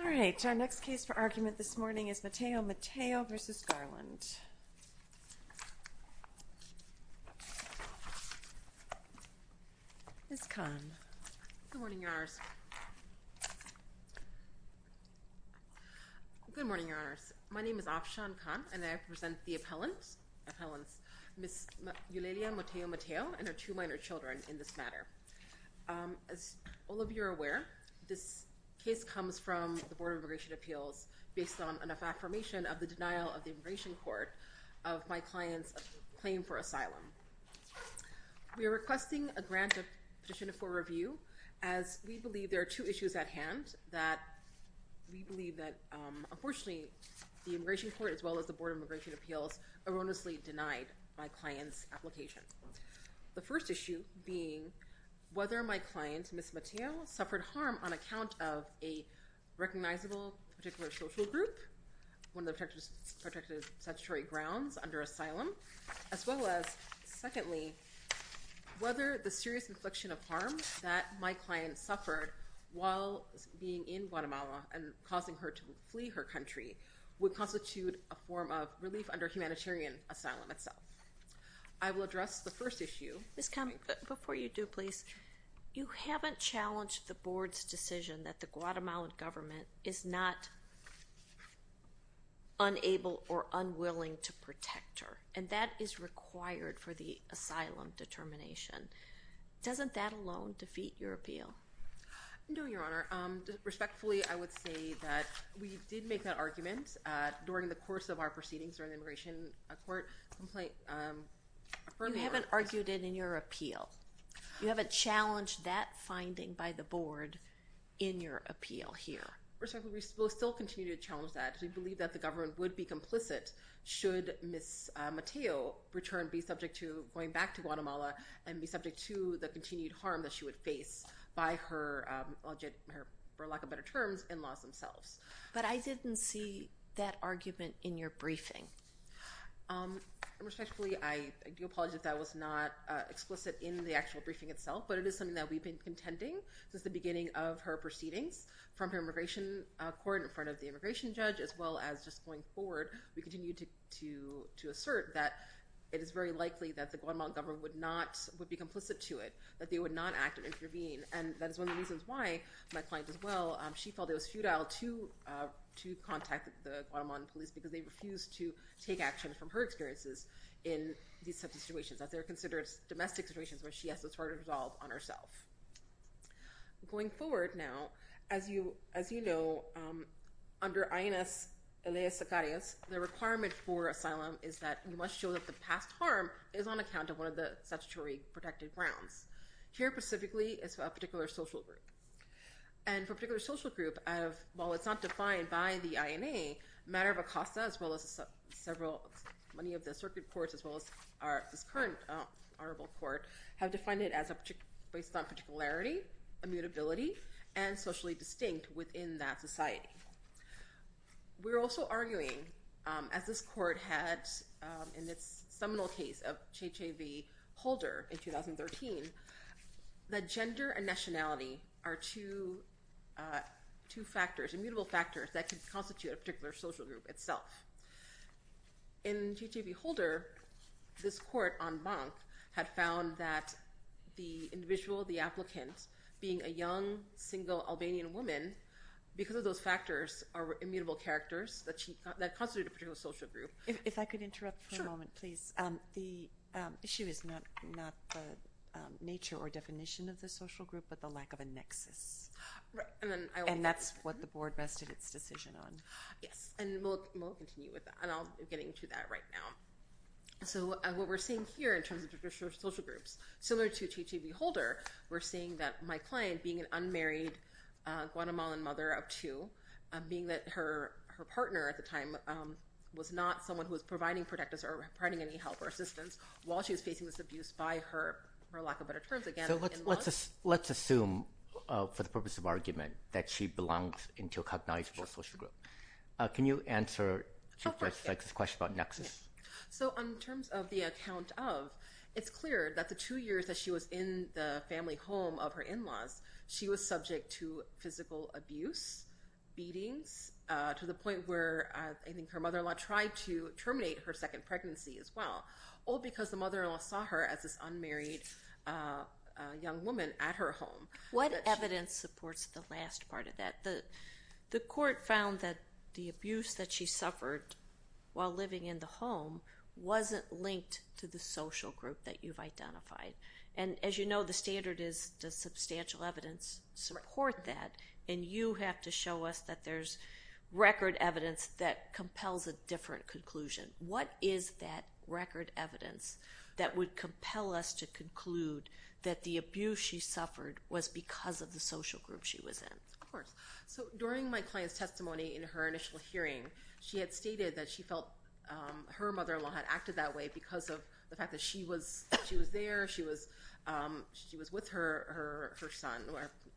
All right, our next case for argument this morning is Mateo-Mateo v. Garland. Ms. Kahn. Good morning, Your Honors. Good morning, Your Honors. My name is Afshan Kahn, and I present the appellants, Ms. Eulalia Mateo-Mateo and her two minor children in this matter. As all of you are aware, this case comes from the Board of Immigration Appeals based on an affirmation of the denial of the Immigration Court of my client's claim for asylum. We are requesting a grant of petition for review as we believe there are two issues at hand. We believe that, unfortunately, the Immigration Court as well as the Board of Immigration Appeals erroneously denied my client's application. The first issue being whether my client, Ms. Mateo, suffered harm on account of a recognizable particular social group, one of the protected statutory grounds under asylum, as well as, secondly, whether the serious inflection of harm that my client suffered while being in Guatemala and causing her to flee her country would constitute a form of relief under humanitarian asylum itself. I will address the first issue. Ms. Kahn, before you do, please, you haven't challenged the Board's decision that the Guatemalan government is not unable or unwilling to protect her, and that is required for the asylum determination. Doesn't that alone defeat your appeal? No, Your Honor. Respectfully, I would say that we did make that argument during the course of our proceedings during the Immigration Court complaint. You haven't argued it in your appeal. You haven't challenged that finding by the Board in your appeal here. Respectfully, we will still continue to challenge that. We believe that the government would be complicit should Ms. Mateo return, be subject to going back to Guatemala, and be subject to the continued harm that she would face by her, for lack of better terms, in-laws themselves. But I didn't see that argument in your briefing. Respectfully, I do apologize if that was not explicit in the actual briefing itself, but it is something that we've been contending since the beginning of her proceedings from her Immigration Court in front of the Immigration Judge as well as just going forward. We continue to assert that it is very likely that the Guatemalan government would be complicit to it, that they would not act and intervene, and that is one of the reasons why my client as well, she felt it was futile to contact the Guatemalan police, because they refused to take action from her experiences in these types of situations, as they're considered domestic situations where she has to sort of resolve on herself. Going forward now, as you know, under INS Elias Zacarias, the requirement for asylum is that you must show that the past harm is on account of one of the statutory protected grounds. Here specifically, it's a particular social group. And for a particular social group, while it's not defined by the INA, the matter of ACOSTA as well as many of the circuit courts as well as this current honorable court have defined it based on particularity, immutability, and socially distinct within that society. We're also arguing, as this court had in its seminal case of Cheche V. Holder in 2013, that gender and nationality are two factors, immutable factors, that can constitute a particular social group itself. In Cheche V. Holder, this court en banc had found that the individual, the applicant, being a young, single Albanian woman, because of those factors, are immutable characters that constitute a particular social group. If I could interrupt for a moment, please. The issue is not the nature or definition of the social group, but the lack of a nexus. And that's what the board rested its decision on. Yes, and we'll continue with that. And I'll get into that right now. So what we're seeing here in terms of social groups, similar to Cheche V. Holder, we're seeing that my client, being an unmarried Guatemalan mother of two, being that her partner at the time was not someone who was providing protectors or providing any help or assistance while she was facing this abuse by her, for lack of better terms, in-laws. So let's assume, for the purpose of argument, that she belongs into a cognizable social group. Can you answer Chief Justice's question about nexus? So in terms of the account of, it's clear that the two years that she was in the family home of her in-laws, she was subject to physical abuse, beatings, to the point where I think her mother-in-law tried to terminate her second pregnancy as well, all because the mother-in-law saw her as this unmarried young woman at her home. What evidence supports the last part of that? The court found that the abuse that she suffered while living in the home wasn't linked to the social group that you've identified. And as you know, the standard is does substantial evidence support that? And you have to show us that there's record evidence that compels a different conclusion. What is that record evidence that would compel us to conclude that the abuse she suffered was because of the social group she was in? Of course. So during my client's testimony in her initial hearing, she had stated that she felt her mother-in-law had acted that way because of the fact that she was there, she was with her son,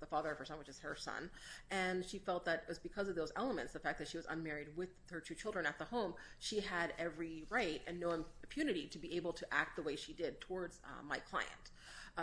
the father of her son, which is her son, and she felt that it was because of those elements, the fact that she was unmarried with her two children at the home, she had every right and no impunity to be able to act the way she did towards my client.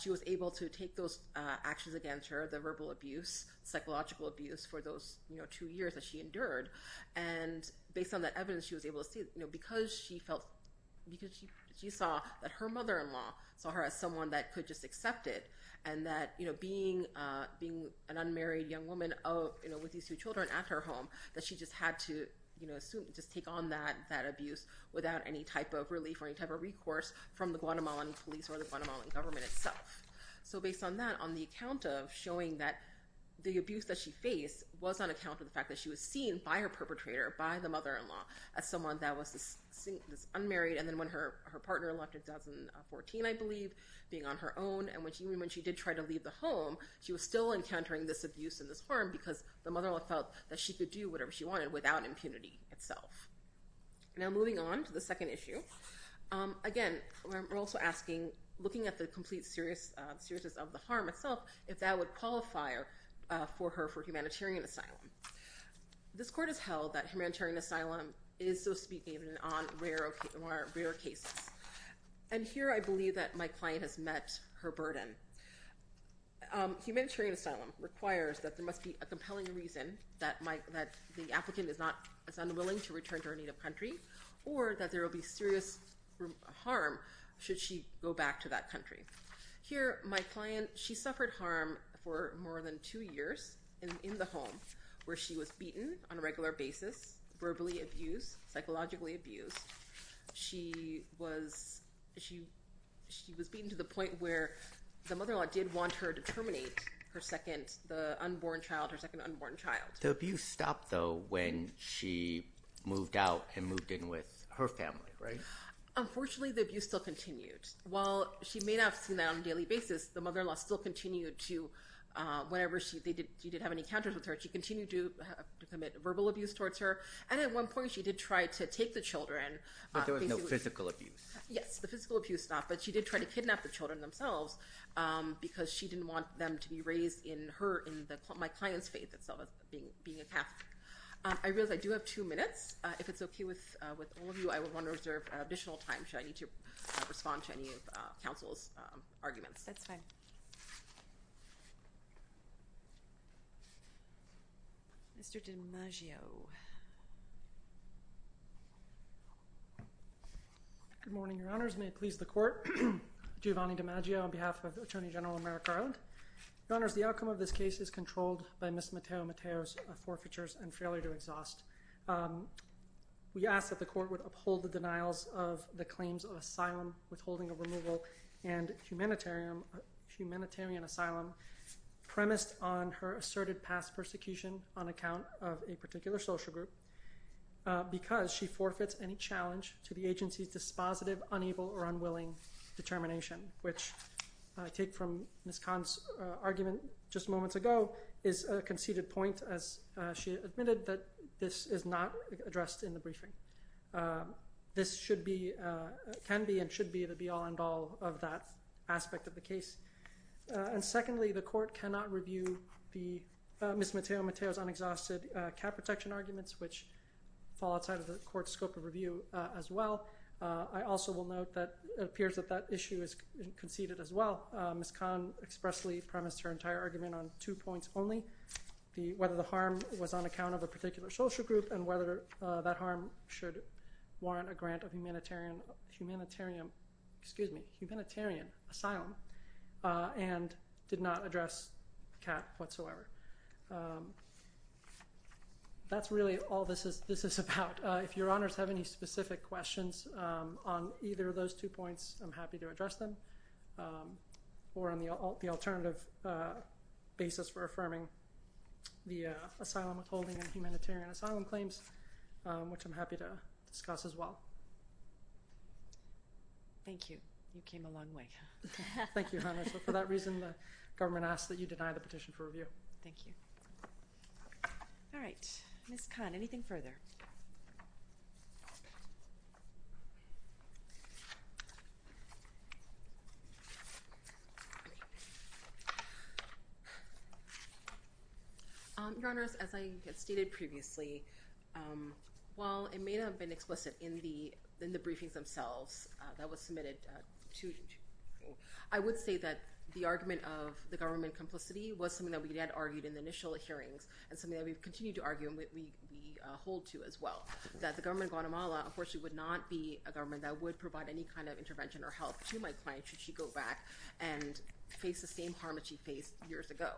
She was able to take those actions against her, the verbal abuse, psychological abuse for those two years that she endured, and based on that evidence, she was able to see that because she saw that her mother-in-law saw her as someone that could just accept it, and that being an unmarried young woman with these two children at her home, that she just had to take on that abuse without any type of relief or any type of recourse from the Guatemalan police or the Guatemalan government itself. So based on that, on the account of showing that the abuse that she faced was on account of the fact that she was seen by her perpetrator, by the mother-in-law, as someone that was unmarried, and then when her partner left in 2014, I believe, being on her own, and when she did try to leave the home, she was still encountering this abuse and this harm because the mother-in-law felt that she could do whatever she wanted without impunity itself. Now moving on to the second issue, again, we're also asking, looking at the complete seriousness of the harm itself, if that would qualify for her for humanitarian asylum. This court has held that humanitarian asylum is, so to speak, even on rare cases. And here I believe that my client has met her burden. Humanitarian asylum requires that there must be a compelling reason that the applicant is unwilling to return to her native country or that there will be serious harm should she go back to that country. Here, my client, she suffered harm for more than two years in the home where she was beaten on a regular basis, verbally abused, psychologically abused. She was beaten to the point where the mother-in-law did want her to terminate her second, the unborn child, her second unborn child. The abuse stopped, though, when she moved out and moved in with her family, right? Unfortunately, the abuse still continued. While she may not have seen that on a daily basis, the mother-in-law still continued to, whenever she did have any encounters with her, she continued to commit verbal abuse towards her. And at one point, she did try to take the children. But there was no physical abuse. Yes, the physical abuse stopped, but she did try to kidnap the children themselves because she didn't want them to be raised in her, in my client's faith as being a Catholic. I realize I do have two minutes. If it's okay with all of you, I would want to reserve additional time. Should I need to respond to any of counsel's arguments? That's fine. Mr. DiMaggio. Good morning, Your Honors. May it please the Court. Giovanni DiMaggio on behalf of the Attorney General of America Island. Your Honors, the outcome of this case is controlled by Ms. Mateo Mateo's forfeitures and failure to exhaust. We ask that the Court would uphold the denials of the claims of asylum, withholding of removal, and humanitarian asylum premised on her asserted past persecution on account of a particular social group because she forfeits any challenge to the agency's dispositive, unevil, or unwilling determination, which I take from Ms. Kahn's argument just moments ago is a conceded point, as she admitted that this is not addressed in the briefing. This should be, can be, and should be the be-all, end-all of that aspect of the case. And secondly, the Court cannot review Ms. Mateo Mateo's unexhausted cat protection arguments, which fall outside of the Court's scope of review as well. I also will note that it appears that that issue is conceded as well. Ms. Kahn expressly premised her entire argument on two points only, whether the harm was on account of a particular social group and whether that harm should warrant a grant of humanitarian asylum and did not address the cat whatsoever. That's really all this is about. If Your Honors have any specific questions on either of those two points, I'm happy to address them, or on the alternative basis for affirming the asylum withholding and humanitarian asylum claims, which I'm happy to discuss as well. Thank you. You came a long way. Thank you, Your Honors. For that reason, the government asks that you deny the petition for review. Thank you. All right. Ms. Kahn, anything further? Your Honors, as I had stated previously, while it may not have been explicit in the briefings themselves that was submitted, I would say that the argument of the government complicity was something that we had argued in the initial hearings and something that we continue to argue and we hold to as well, that the government of Guatemala, unfortunately, would not be a government that would provide any kind of intervention or help to my client should she go back and face the same harm that she faced years ago.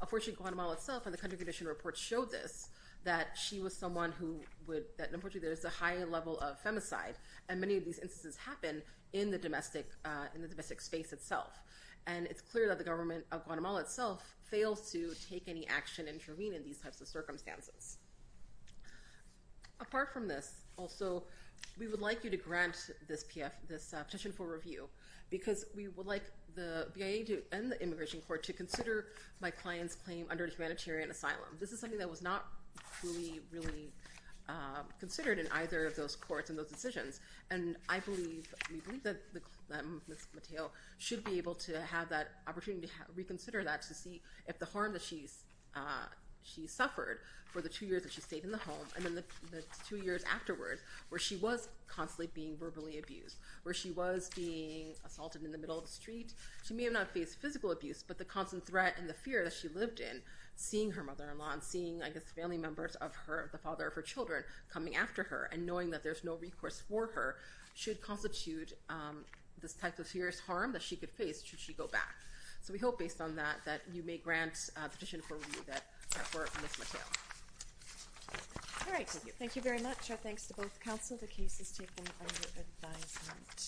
Unfortunately, Guatemala itself and the country condition report showed this, that she was someone who would—unfortunately, there is a high level of femicide, and many of these instances happen in the domestic space itself. And it's clear that the government of Guatemala itself fails to take any action and intervene in these types of circumstances. Apart from this, also, we would like you to grant this petition for review because we would like the BIA and the Immigration Court to consider my client's claim under humanitarian asylum. This is something that was not really considered in either of those courts and those decisions, and I believe—we believe that Ms. Mateo should be able to have that opportunity to reconsider that and to see if the harm that she suffered for the two years that she stayed in the home and then the two years afterwards where she was constantly being verbally abused, where she was being assaulted in the middle of the street. She may have not faced physical abuse, but the constant threat and the fear that she lived in, seeing her mother-in-law and seeing, I guess, family members of her, the father of her children, coming after her and knowing that there's no recourse for her should constitute this type of serious harm that she could face should she go back. So we hope, based on that, that you may grant a petition for review for Ms. Mateo. All right. Thank you. Thank you very much. Our thanks to both counsel. The case is taken under advisement.